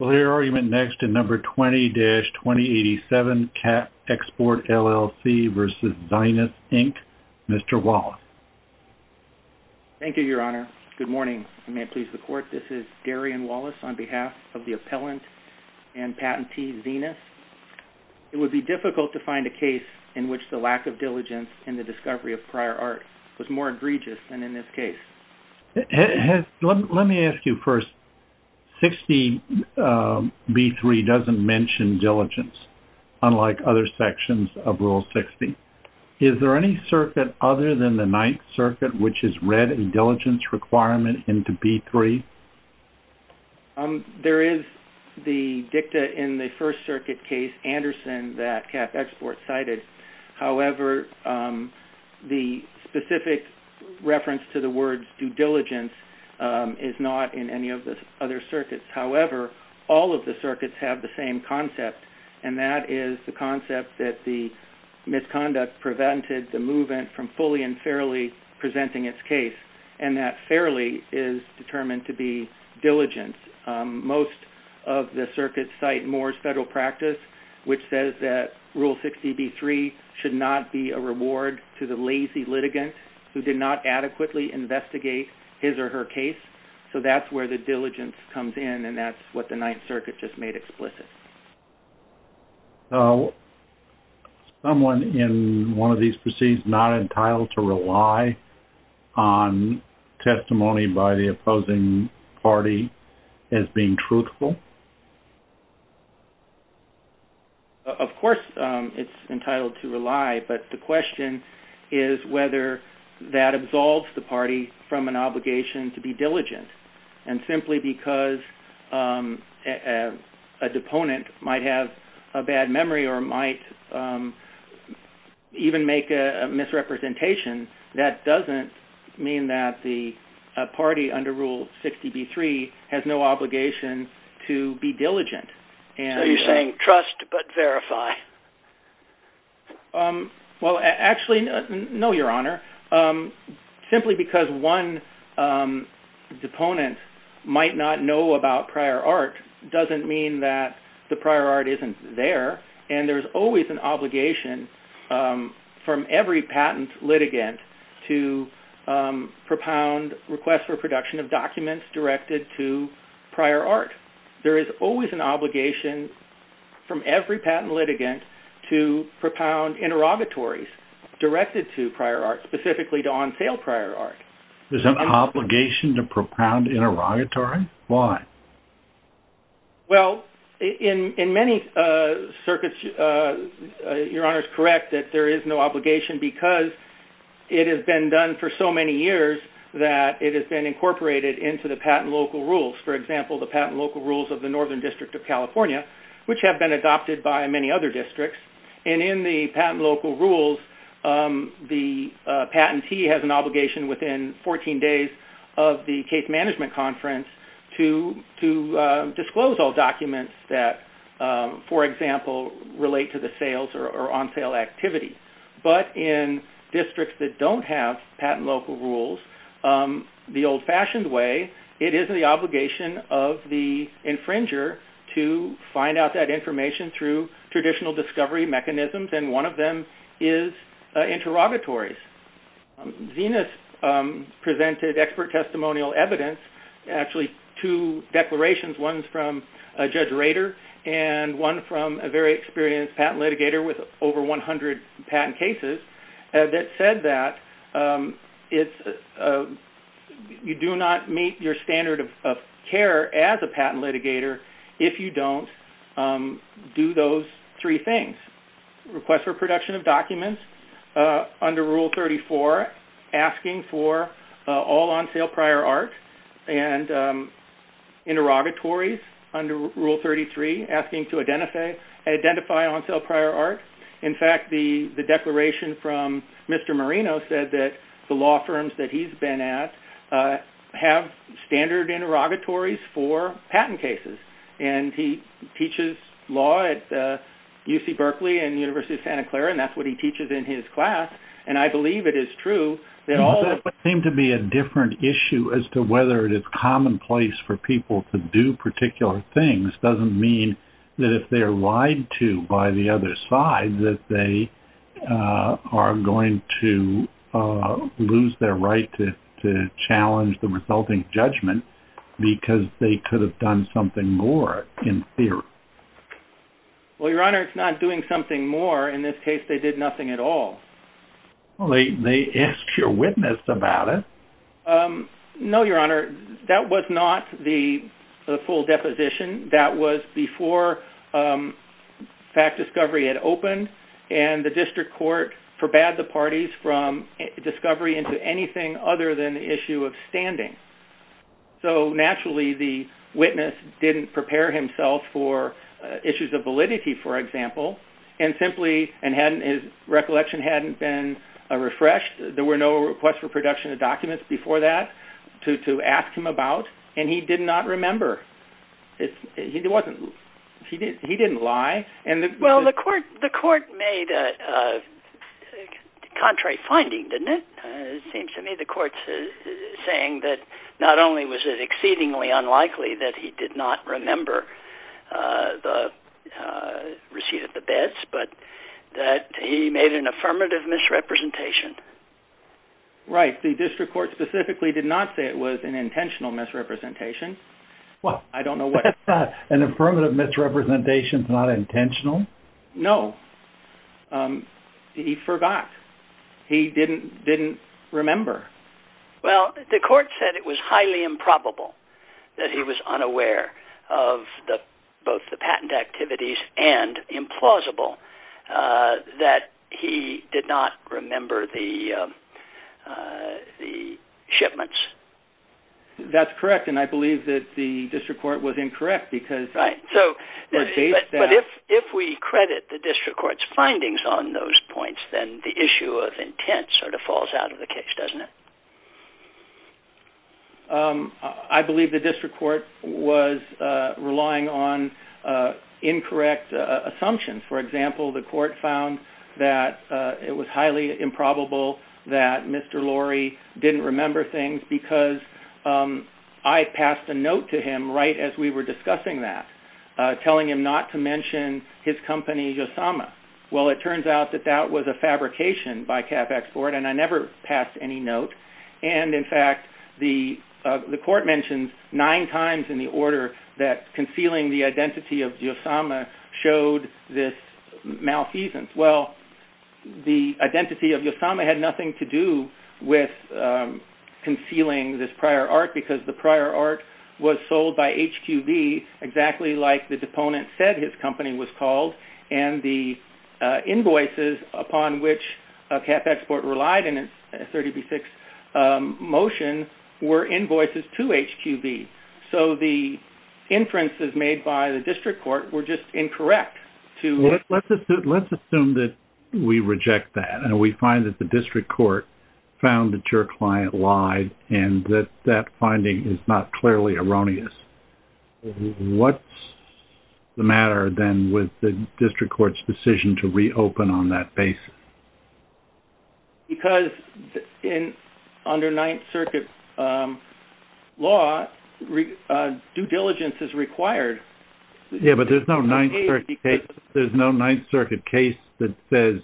Mr. Wallace. Thank you, Your Honor. Good morning. This is Darian Wallace on behalf of the appellant and patentee, Venus. It would be difficult to find a case in which the lack of diligence in the discovery of prior art was more egregious than in this case. Let me ask you first. Sixteen B-3 doesn't mention diligence, unlike other sections of Rule 60. Is there any circuit other than the Ninth Circuit which has read a diligence requirement into B-3? There is the dicta in the First Circuit case, Anderson, that CAP Export cited. However, the specific to the words due diligence is not in any of the other circuits. However, all of the circuits have the same concept, and that is the concept that the misconduct prevented the movement from fully and fairly presenting its case, and that fairly is determined to be diligence. Most of the circuits cite Moore's Federal Practice, which says that Rule 60 B-3 should not be a reward to the lazy litigant who did not adequately investigate his or her case. So that's where the diligence comes in, and that's what the Ninth Circuit just made explicit. Is someone in one of these proceedings not entitled to rely on testimony by the opposing party as being truthful? Of course it's entitled to rely, but the question is whether that absolves the party from an obligation to be diligent, and simply because a deponent might have a bad memory or might even make a misrepresentation, that doesn't mean that the party under Rule 60 B-3 has no obligation to be diligent. So you're saying trust but verify? Well, actually, no, Your Honor. Simply because one deponent might not know about prior art doesn't mean that the prior art isn't there, and there's always an obligation from every prior art. There is always an obligation from every patent litigant to propound interrogatories directed to prior art, specifically to on-sale prior art. There's an obligation to propound interrogatory? Why? Well, in many circuits, Your Honor is correct that there is no obligation because it has been done for so many years that it has been incorporated into the patent local rules. For example, the patent local rules of the Northern District of California, which have been adopted by many other districts, and in the patent local rules, the patentee has an obligation within 14 days of the case management conference to disclose all documents that, for example, relate to the sales or on-sale activity. But in districts that don't have patent local rules the old-fashioned way, it is the obligation of the infringer to find out that information through traditional discovery mechanisms, and one of them is interrogatories. Zenas presented expert testimonial evidence, actually two declarations, one from Judge Experience, a patent litigator with over 100 patent cases, that said that you do not meet your standard of care as a patent litigator if you don't do those three things. Request for production of documents under Rule 34, asking for all on-sale prior art, and interrogatories under Rule 33, asking to identify on-sale prior art. In fact, the declaration from Mr. Marino said that the law firms that he has been at have standard interrogatories for patent cases, and he teaches law at UC Berkeley and the University of Santa Clara, and that is what he teaches in his class, and I believe it is true that all... Whether it is commonplace for people to do particular things doesn't mean that if they are lied to by the other side that they are going to lose their right to challenge the resulting judgment because they could have done something more in theory. Well, Your Honor, it's not doing something more. In this case, they did nothing at all. Well, they asked your witness about it. No, Your Honor. That was not the full deposition. That was before fact discovery had opened, and the district court forbade the parties from discovery into anything other than the issue of standing. So naturally, the witness didn't prepare himself for issues of validity, for example, and simply his recollection hadn't been refreshed. There were no requests for production of documents before that to ask him about, and he did not remember. He didn't lie. Well, the court made a contrary finding, didn't it? It seems to me the court is saying that not only was it exceedingly unlikely that he did not remember the receipt of the bids, but that he made an affirmative misrepresentation. Right. The district court specifically did not say it was an intentional misrepresentation. I don't know what... An affirmative misrepresentation is not intentional? No. He forgot. He didn't remember. Well, the court said it was highly improbable that he was unaware of both the patent activities and implausible that he did not remember the shipments. That's correct, and I believe that the district court was incorrect because... Right. But if we credit the district court's findings on those points, then the issue of the case doesn't it? I believe the district court was relying on incorrect assumptions. For example, the court found that it was highly improbable that Mr. Lorry didn't remember things because I passed a note to him right as we were discussing that telling him not to mention his company Yosama. Well, it turns out that that was a fabrication by CapExport, and I never passed any note. In fact, the court mentioned nine times in the order that concealing the identity of Yosama showed this malfeasance. Well, the identity of Yosama had nothing to do with concealing this prior art because the prior art was sold by HQB exactly like the deponent said his company was called, and the invoices upon which CapExport relied in its 30B6 motion were invoices to HQB. So the inferences made by the district court were just incorrect to... Let's assume that we reject that, and we find that the district court found that your client lied and that that finding is not clearly erroneous. What's the matter then with the district court's decision to reopen on that basis? Because under Ninth Circuit law, due diligence is required. Yeah, but there's no Ninth Circuit case that says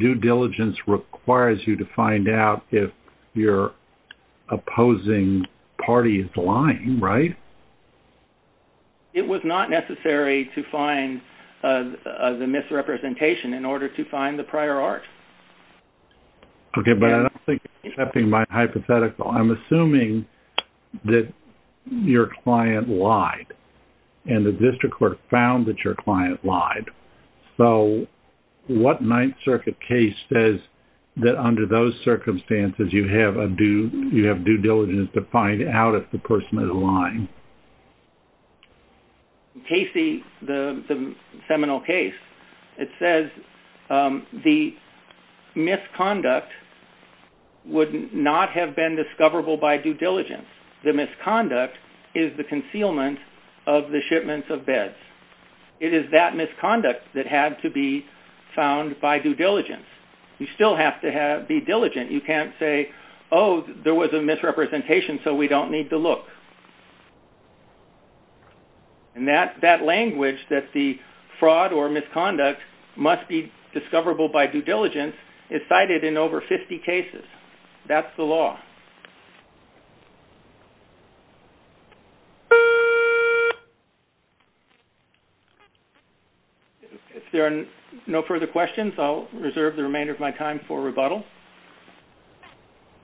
due diligence requires you to find out if your opposing party is lying, right? It was not necessary to find the misrepresentation in order to find the prior art. Okay, but I don't think you're accepting my hypothetical. I'm assuming that your client lied and the district court found that your client lied. So what Ninth Circuit case says that under those circumstances, you have due diligence to find out if the person is lying? In Casey, the seminal case, it says the misconduct would not have been discoverable by due diligence. The misconduct is the concealment of the shipments of beds. It is that misconduct that had to be found by due diligence. You still have to be diligent. You can't say, oh, there was a misrepresentation, so we don't need to look. That language that the fraud or misconduct must be discoverable by due diligence is cited in over 50 cases. That's the law. If there are no further questions, I'll reserve the remainder of my time for rebuttal.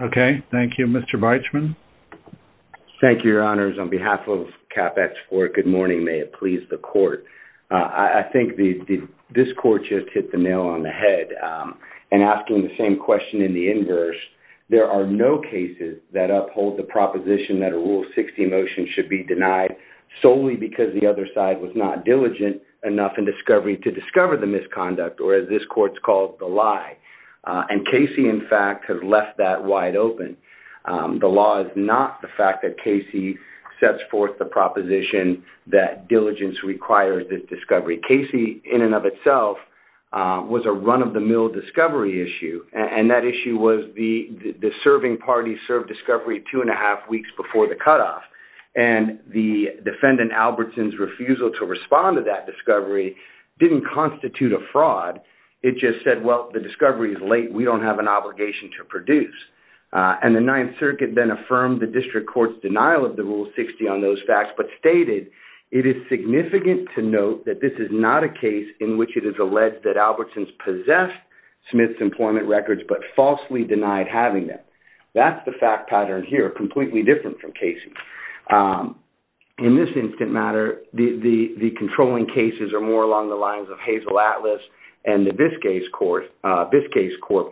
Okay, thank you. Mr. Beitschman? Thank you, Your Honors. On behalf of CapEx IV, good morning. May it please the court. I think this court just hit the nail on the head in asking the same question in the inverse. There are no cases that uphold the proposition that a Rule 60 motion should be denied solely because the other side was not diligent enough in discovery to discover the misconduct or as this court's called, the lie. Casey, in fact, has left that wide open. The law is not the fact that Casey sets forth the proposition that diligence requires this discovery. Casey in and of itself was a run-of-the-mill discovery issue. That issue was the serving party served discovery two and a half weeks before the cutoff. The defendant Albertson's refusal to respond to that discovery didn't constitute a fraud. It just said, well, the discovery is late. We don't have an obligation to produce. The Ninth Circuit then affirmed the district court's denial of the Rule 60 on those facts but stated, it is significant to note that this is not a case in which it is alleged that Albertson's possessed Smith's employment records but falsely denied having them. That's the fact pattern here, completely different from Casey. In this instant matter, the controlling cases are more along the lines of Hazel Atlas and the Biscayne's Corp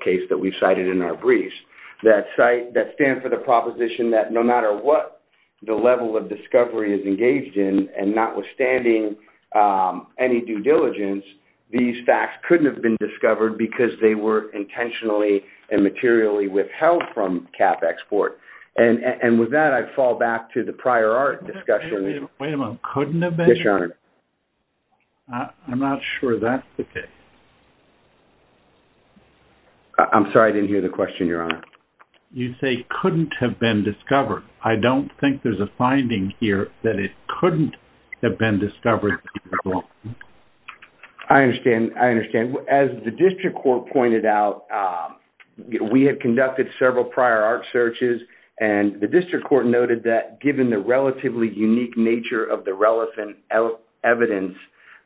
case that we cited in our briefs that stand for the proposition that no matter what the level of discovery is engaged in and notwithstanding any due diligence, these facts couldn't have been discovered because they were intentionally and materially withheld from cap export. And with that, I fall back to the prior art discussion. Wait a minute. Couldn't have been? Yes, Your Honor. I'm not sure that's the case. I'm sorry. I didn't hear the question, Your Honor. You say couldn't have been discovered. I don't think there's a finding here that it couldn't have been discovered. I understand. I understand. As the district court pointed out, we had conducted several prior art searches and the district court noted that given the relatively unique nature of the relevant evidence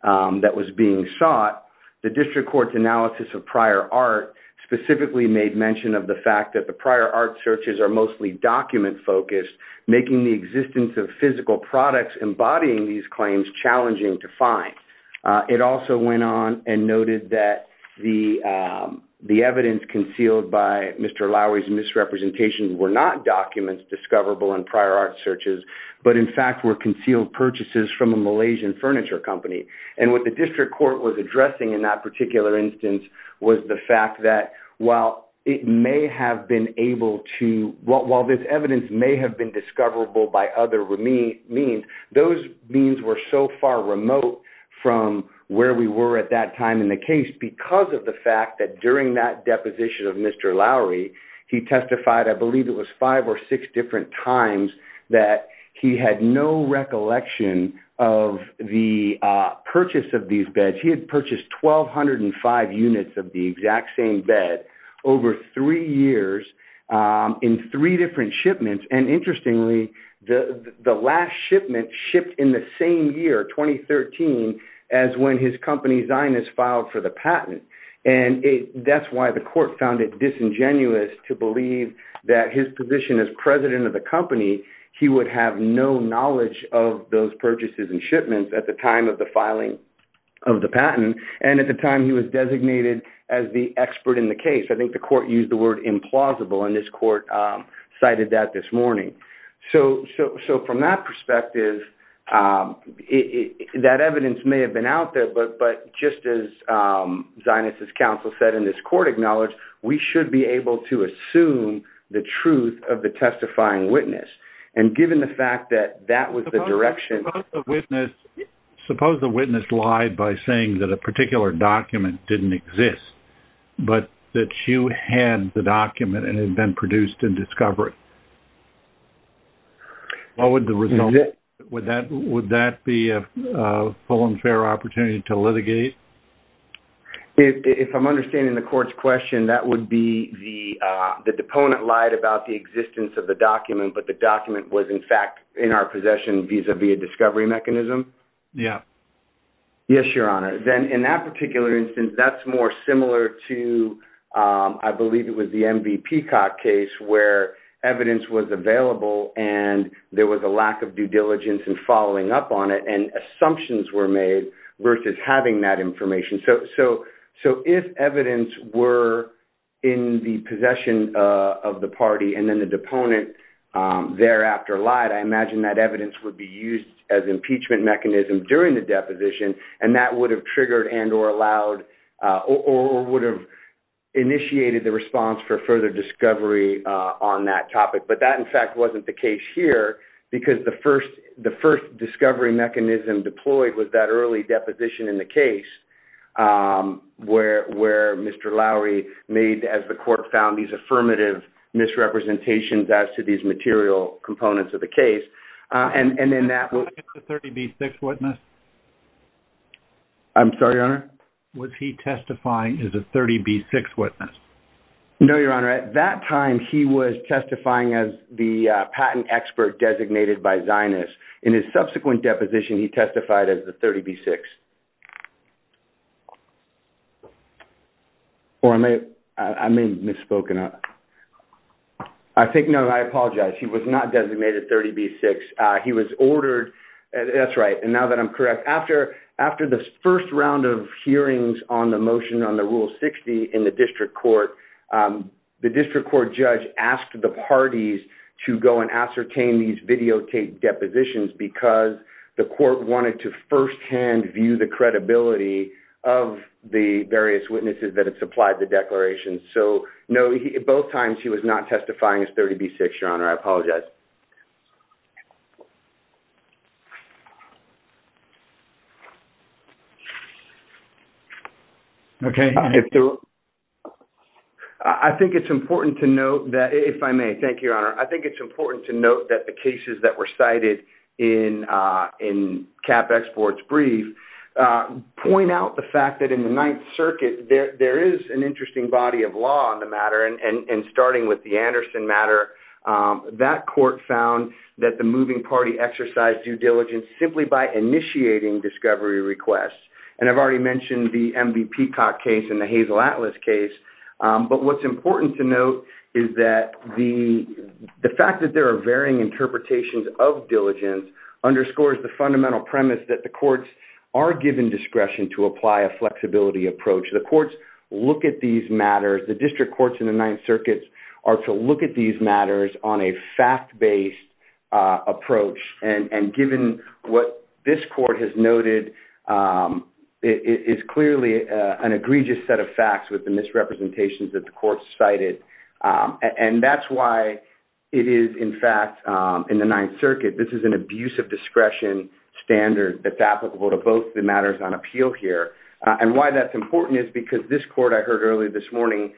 that was being sought, the district court's analysis of prior art specifically made mention of the fact that the prior art searches are mostly document focused, making the existence of physical products embodying these claims challenging to find. It also went on and noted that the evidence concealed by Mr. Lowery's misrepresentation were not documents discoverable in prior art searches, but in fact were concealed purchases from a Malaysian furniture company. And with the district court was addressing in that particular instance was the fact that while it may have been able to, while this evidence may have been discoverable by other means, those means were so far remote from where we were at that time in the case because of the fact that during that deposition of Mr. Lowery, he testified, I believe it was five or six different times that he had no recollection of the purchase of these beds. He had purchased 1,205 units of the exact same bed over three years in three different shipments. And interestingly, the last shipment shipped in the same year, 2013, as when his company, Zinus, filed for the patent. And that's why the court found it disingenuous to believe that his position as president of the company, he would have no knowledge of those purchases and shipments at the time of the filing of the patent. And at the time he was designated as the expert in the case. I think the court used the word implausible and this court cited that this morning. So from that perspective, that evidence may have been out there, but just as Zinus's testimony, the court may have been out there testifying witness. And given the fact that that was the direction... Suppose the witness lied by saying that a particular document didn't exist, but that you had the document and it had been produced and discovered. Would that be a full and fair opportunity to litigate? If I'm understanding the court's question, that would be the deponent lied about the existence of the document, but the document was in fact in our possession vis-a-vis a discovery mechanism? Yeah. Yes, your honor. Then in that particular instance, that's more similar to, I believe it was the MV Peacock case where evidence was available and there was a lack of due diligence and following up on it and assumptions were made versus having that information. So if evidence were in the possession of the party and then the deponent thereafter lied, I imagine that evidence would be used as impeachment mechanism during the deposition and that would have triggered and or allowed or would have initiated the response for further discovery on that topic. But that in fact wasn't the case here because the first discovery mechanism deployed was that early deposition in the case where Mr. Lowery made, as the court found, these affirmative misrepresentations as to these material components of the case and then that was... Was he a 30B6 witness? I'm sorry, your honor? Was he testifying as a 30B6 witness? No, your honor. At that time, he was testifying as the patent expert designated by Zinus. In his subsequent deposition, he testified as the 30B6. Or I may have misspoken. I think, no, I apologize. He was not designated 30B6. He was ordered... That's right. And now that I'm correct, after the first round of hearings on the motion on the Rule 60 in the district court, the district court judge asked the parties to go and ascertain these videotaped depositions because the court wanted to firsthand view the credibility of the various witnesses that had supplied the declarations. So, no, both times he was not testifying as 30B6, your honor. I apologize. Okay. I think it's important to note that... If I may. Thank you, your honor. I think it's important to note that the moving party exercise due diligence simply by initiating discovery requests. And I've already mentioned the MV Peacock case and the Hazel Atlas case. But what's important to note is that the fact that there are varying interpretations of diligence underscores the fundamental premise that the courts are given discretion to apply a flexibility approach. The courts look at these matters. The district courts in the Ninth Circuit are to look at these matters on a fact-based approach. And given what this court has noted, it's clearly an egregious set of facts with the misrepresentations that the court cited. And that's why it is, in fact, in the Ninth Circuit, this is an abuse of discretion standard that's applicable to both the matters on appeal here. And why that's important is because this court I heard early this morning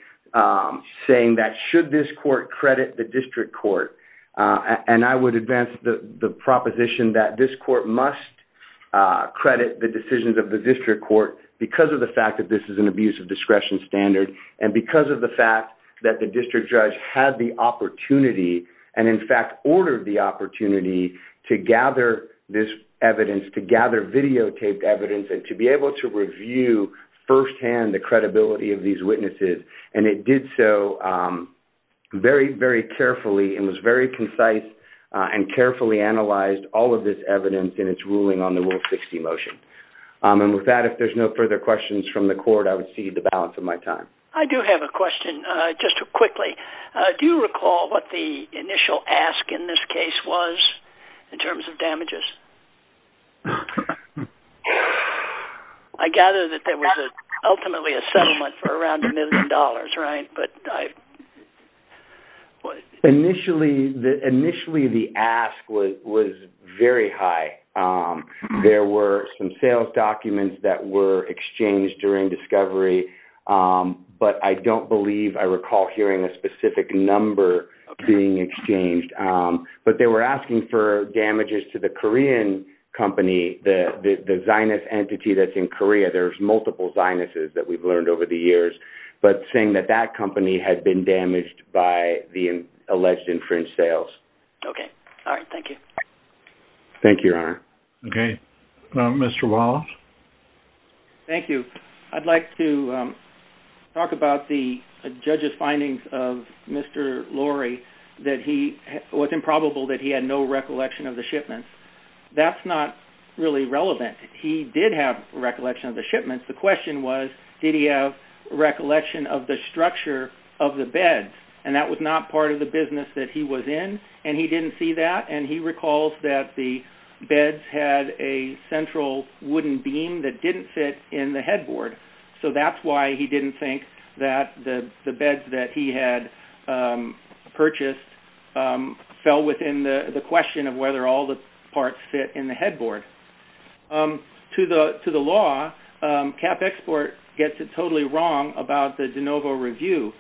saying that should this court credit the district court? And I would advance the proposition that this court must credit the decisions of the district court because of the fact that this is an abuse of discretion standard and because of the fact that the district judge had the opportunity, and in fact ordered the opportunity, to gather this evidence, to gather videotaped evidence, and to be able to review firsthand the credibility of these witnesses. And it did so very, very carefully and was very concise and carefully analyzed all of this evidence in its ruling on the Rule 60 motion. And with that, if there's no further questions from the court, I would cede the balance of my time. I do have a question, just quickly. Do you recall what the initial ask in this case was in terms of damages? I gather that there was ultimately a settlement for around a million dollars, right? Initially, the ask was very high. There were some sales documents that were exchanged during discovery, but I don't believe I recall hearing a specific number being exchanged. But they were asking for damages to the Korean company, the Zionist entity that's in Korea. There's multiple Zionists that we've learned over the years. But saying that that company had been damaged by the alleged infringed sales. Okay. All right. Thank you. Thank you, Your Honor. Okay. Mr. Wallace? Thank you. I'd like to talk about the judge's findings of Mr. Lorry, that it was improbable that he had no recollection of the shipment. That's not really relevant. He did have a recollection of the shipments. The question was, did he have a recollection of the structure of the beds? And that was not part of the business that he was in. And he didn't see that. And he recalls that the beds had a central wooden beam that didn't fit in the headboard. So that's why he didn't think that the beds that he had purchased fell within the question of whether all the parts fit in the headboard. To the law, Cap Export gets it totally wrong about the de novo review.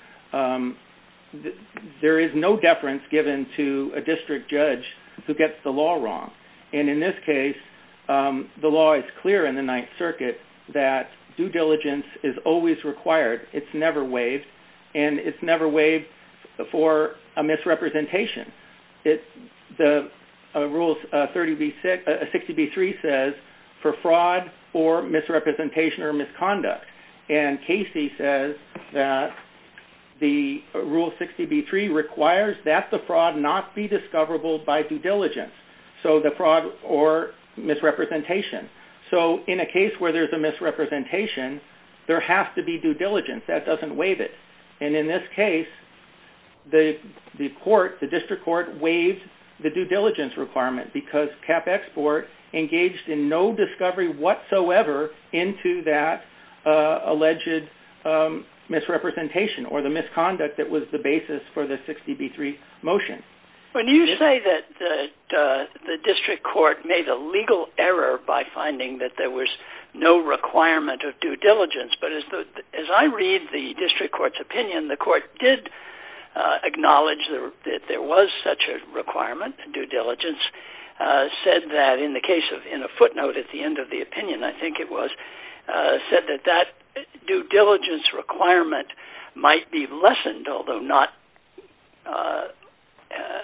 There is no deference given to a district judge who gets the law wrong. And in this case, the law is clear in the Ninth Circuit that due diligence is always required. It's never waived. And it's never waived for a misrepresentation. The rule 60B3 says for fraud or misrepresentation or misconduct. And Casey says that the rule 60B3 requires that the fraud not be discoverable by due diligence. So the fraud or misrepresentation. So in a case where there's a misrepresentation, there has to be due diligence. That doesn't waive it. And in this case, the court, the district court waived the due diligence requirement because Cap Export engaged in no discovery whatsoever into that alleged misrepresentation or the misconduct that was the basis for the 60B3 motion. When you say that the district court made a legal error by finding that there was no requirement of due diligence. But as I read the district court's opinion, the court did acknowledge that there was such a requirement. Due diligence said that in the case of in a footnote at the end of the opinion, I think it was said that that due diligence requirement might be lessened, although not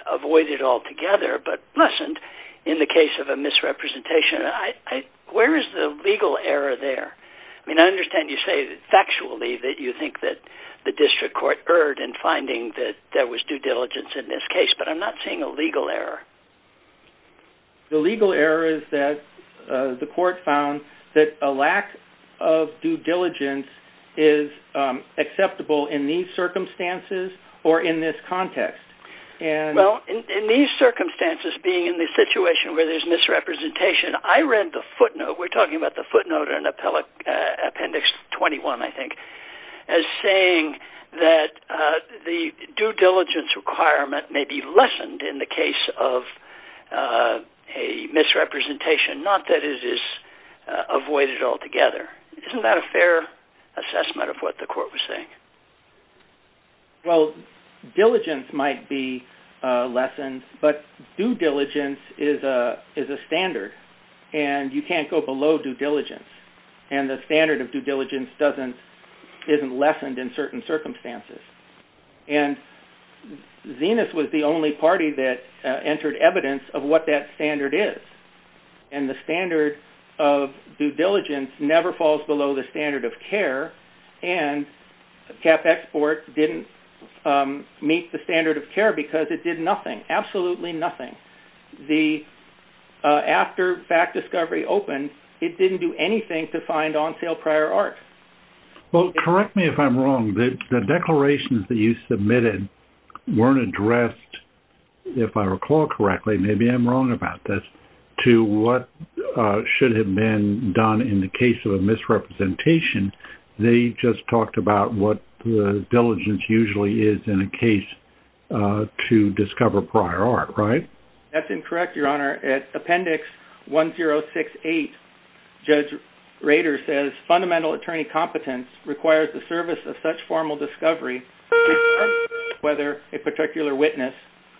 avoided altogether, but lessened in the case of a misrepresentation. Where is the legal error there? I mean, I understand you say factually that you think that the district court erred in finding that there was due diligence in this case, but I'm not seeing a legal error. The legal error is that the court found that a lack of due diligence is acceptable in these circumstances or in this context. Well, in these circumstances, being in the situation where there's misrepresentation, I read the footnote, we're talking about the footnote in appendix 21, I think, as saying that the due diligence requirement may be lessened in the case of a misrepresentation, not that it is avoided altogether. Isn't that a fair assessment of what the court was saying? Well, diligence might be lessened, but due diligence is a standard, and you can't go below due diligence, and the standard of due diligence isn't lessened in certain circumstances. And Zenas was the only party that entered evidence of what that standard is, and the standard of due diligence never falls below the standard of care, and CapExport didn't meet the standard of care because it did nothing, absolutely nothing. After fact discovery opened, it didn't do anything to find on-sale prior art. Well, correct me if I'm wrong, the declarations that you submitted weren't addressed, if I recall correctly, maybe I'm wrong about this, to what should have been done in the case of a misrepresentation, they just talked about what the diligence usually is in a case to discover prior art, right? That's incorrect, Your Honor. At appendix 1068, Judge Rader says, fundamental attorney competence requires the service of such formal discovery whether a particular witness,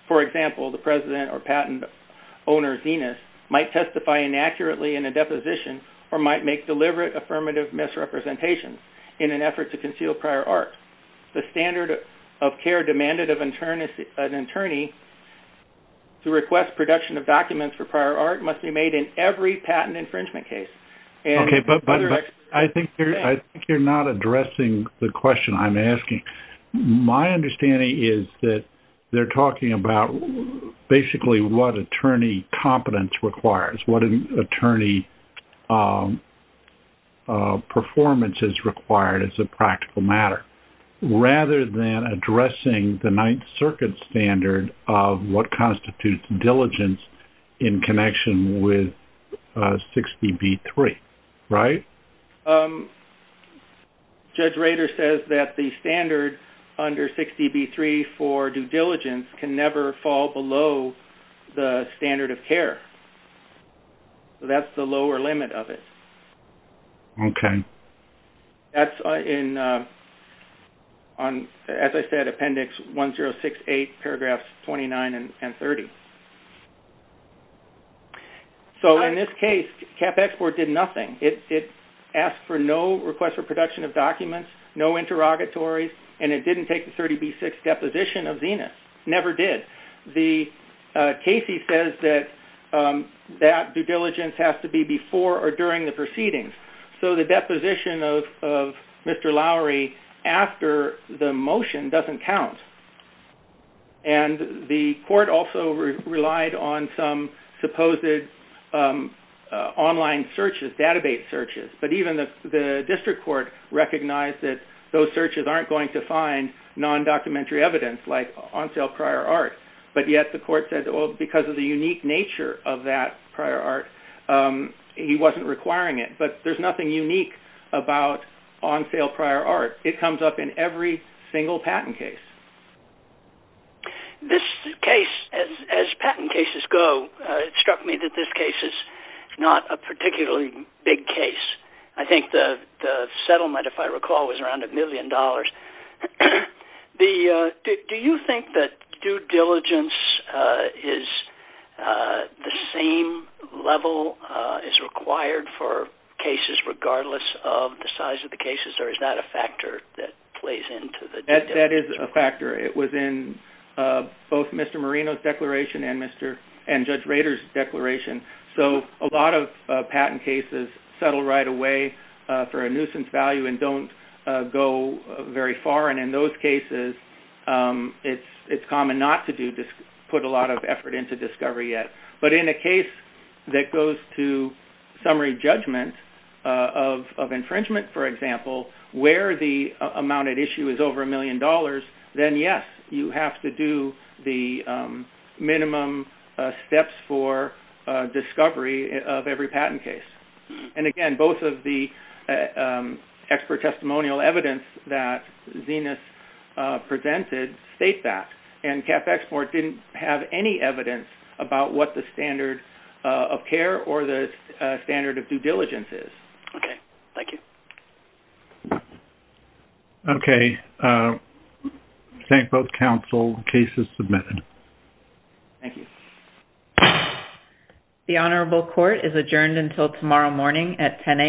for example, the president or patent owner Zenas, might testify inaccurately in a deposition or might make deliberate affirmative misrepresentations in an effort to conceal prior art. The standard of care demanded of an attorney to request production of documents for prior art must be made in every patent infringement case. Okay, but I think you're not addressing the question I'm asking. My understanding is that they're talking about basically what attorney competence requires, what an attorney performance is required as a practical matter, rather than addressing the Ninth Circuit standard of what constitutes diligence in connection with 60B3, right? Um, Judge Rader says that the standard under 60B3 for due diligence can never fall below the standard of care. So that's the lower limit of it. Okay. That's in, on, as I said, appendix 1068, paragraphs 29 and 30. Okay. So in this case, CapExport did nothing. It asked for no request for production of documents, no interrogatories, and it didn't take the 30B6 deposition of Zenas. Never did. The case, he says that that due diligence has to be before or during the proceedings. So the deposition of Mr. Lowry after the motion doesn't count. And the court also relied on some supposed online searches, database searches. But even the district court recognized that those searches aren't going to find non-documentary evidence like on sale prior art. But yet the court said, well, because of the unique nature of that prior art, he wasn't requiring it. But there's nothing unique about on sale prior art. It comes up in every single patent case. This case, as patent cases go, it struck me that this case is not a particularly big case. I think the settlement, if I recall, was around a million dollars. Do you think that due diligence is the same level as required for cases regardless of the size of the cases? Or is that a factor that plays into it? That is a factor. It was in both Mr. Marino's declaration and Judge Rader's declaration. So a lot of patent cases settle right away for a nuisance value and don't go very far. And in those cases, it's common not to put a lot of effort into discovery yet. But in a case that goes to summary judgment of infringement, for example, where the amount at issue is over a million dollars, then yes, you have to do the minimum steps for discovery of every patent case. And again, both of the expert testimonial evidence that Zenith presented state that. And CAF Export didn't have any evidence about what the standard of care or the standard of due diligence is. Okay. Thank you. Okay. I thank both counsel. The case is submitted. Thank you. The Honorable Court is adjourned until tomorrow morning at 10 a.m.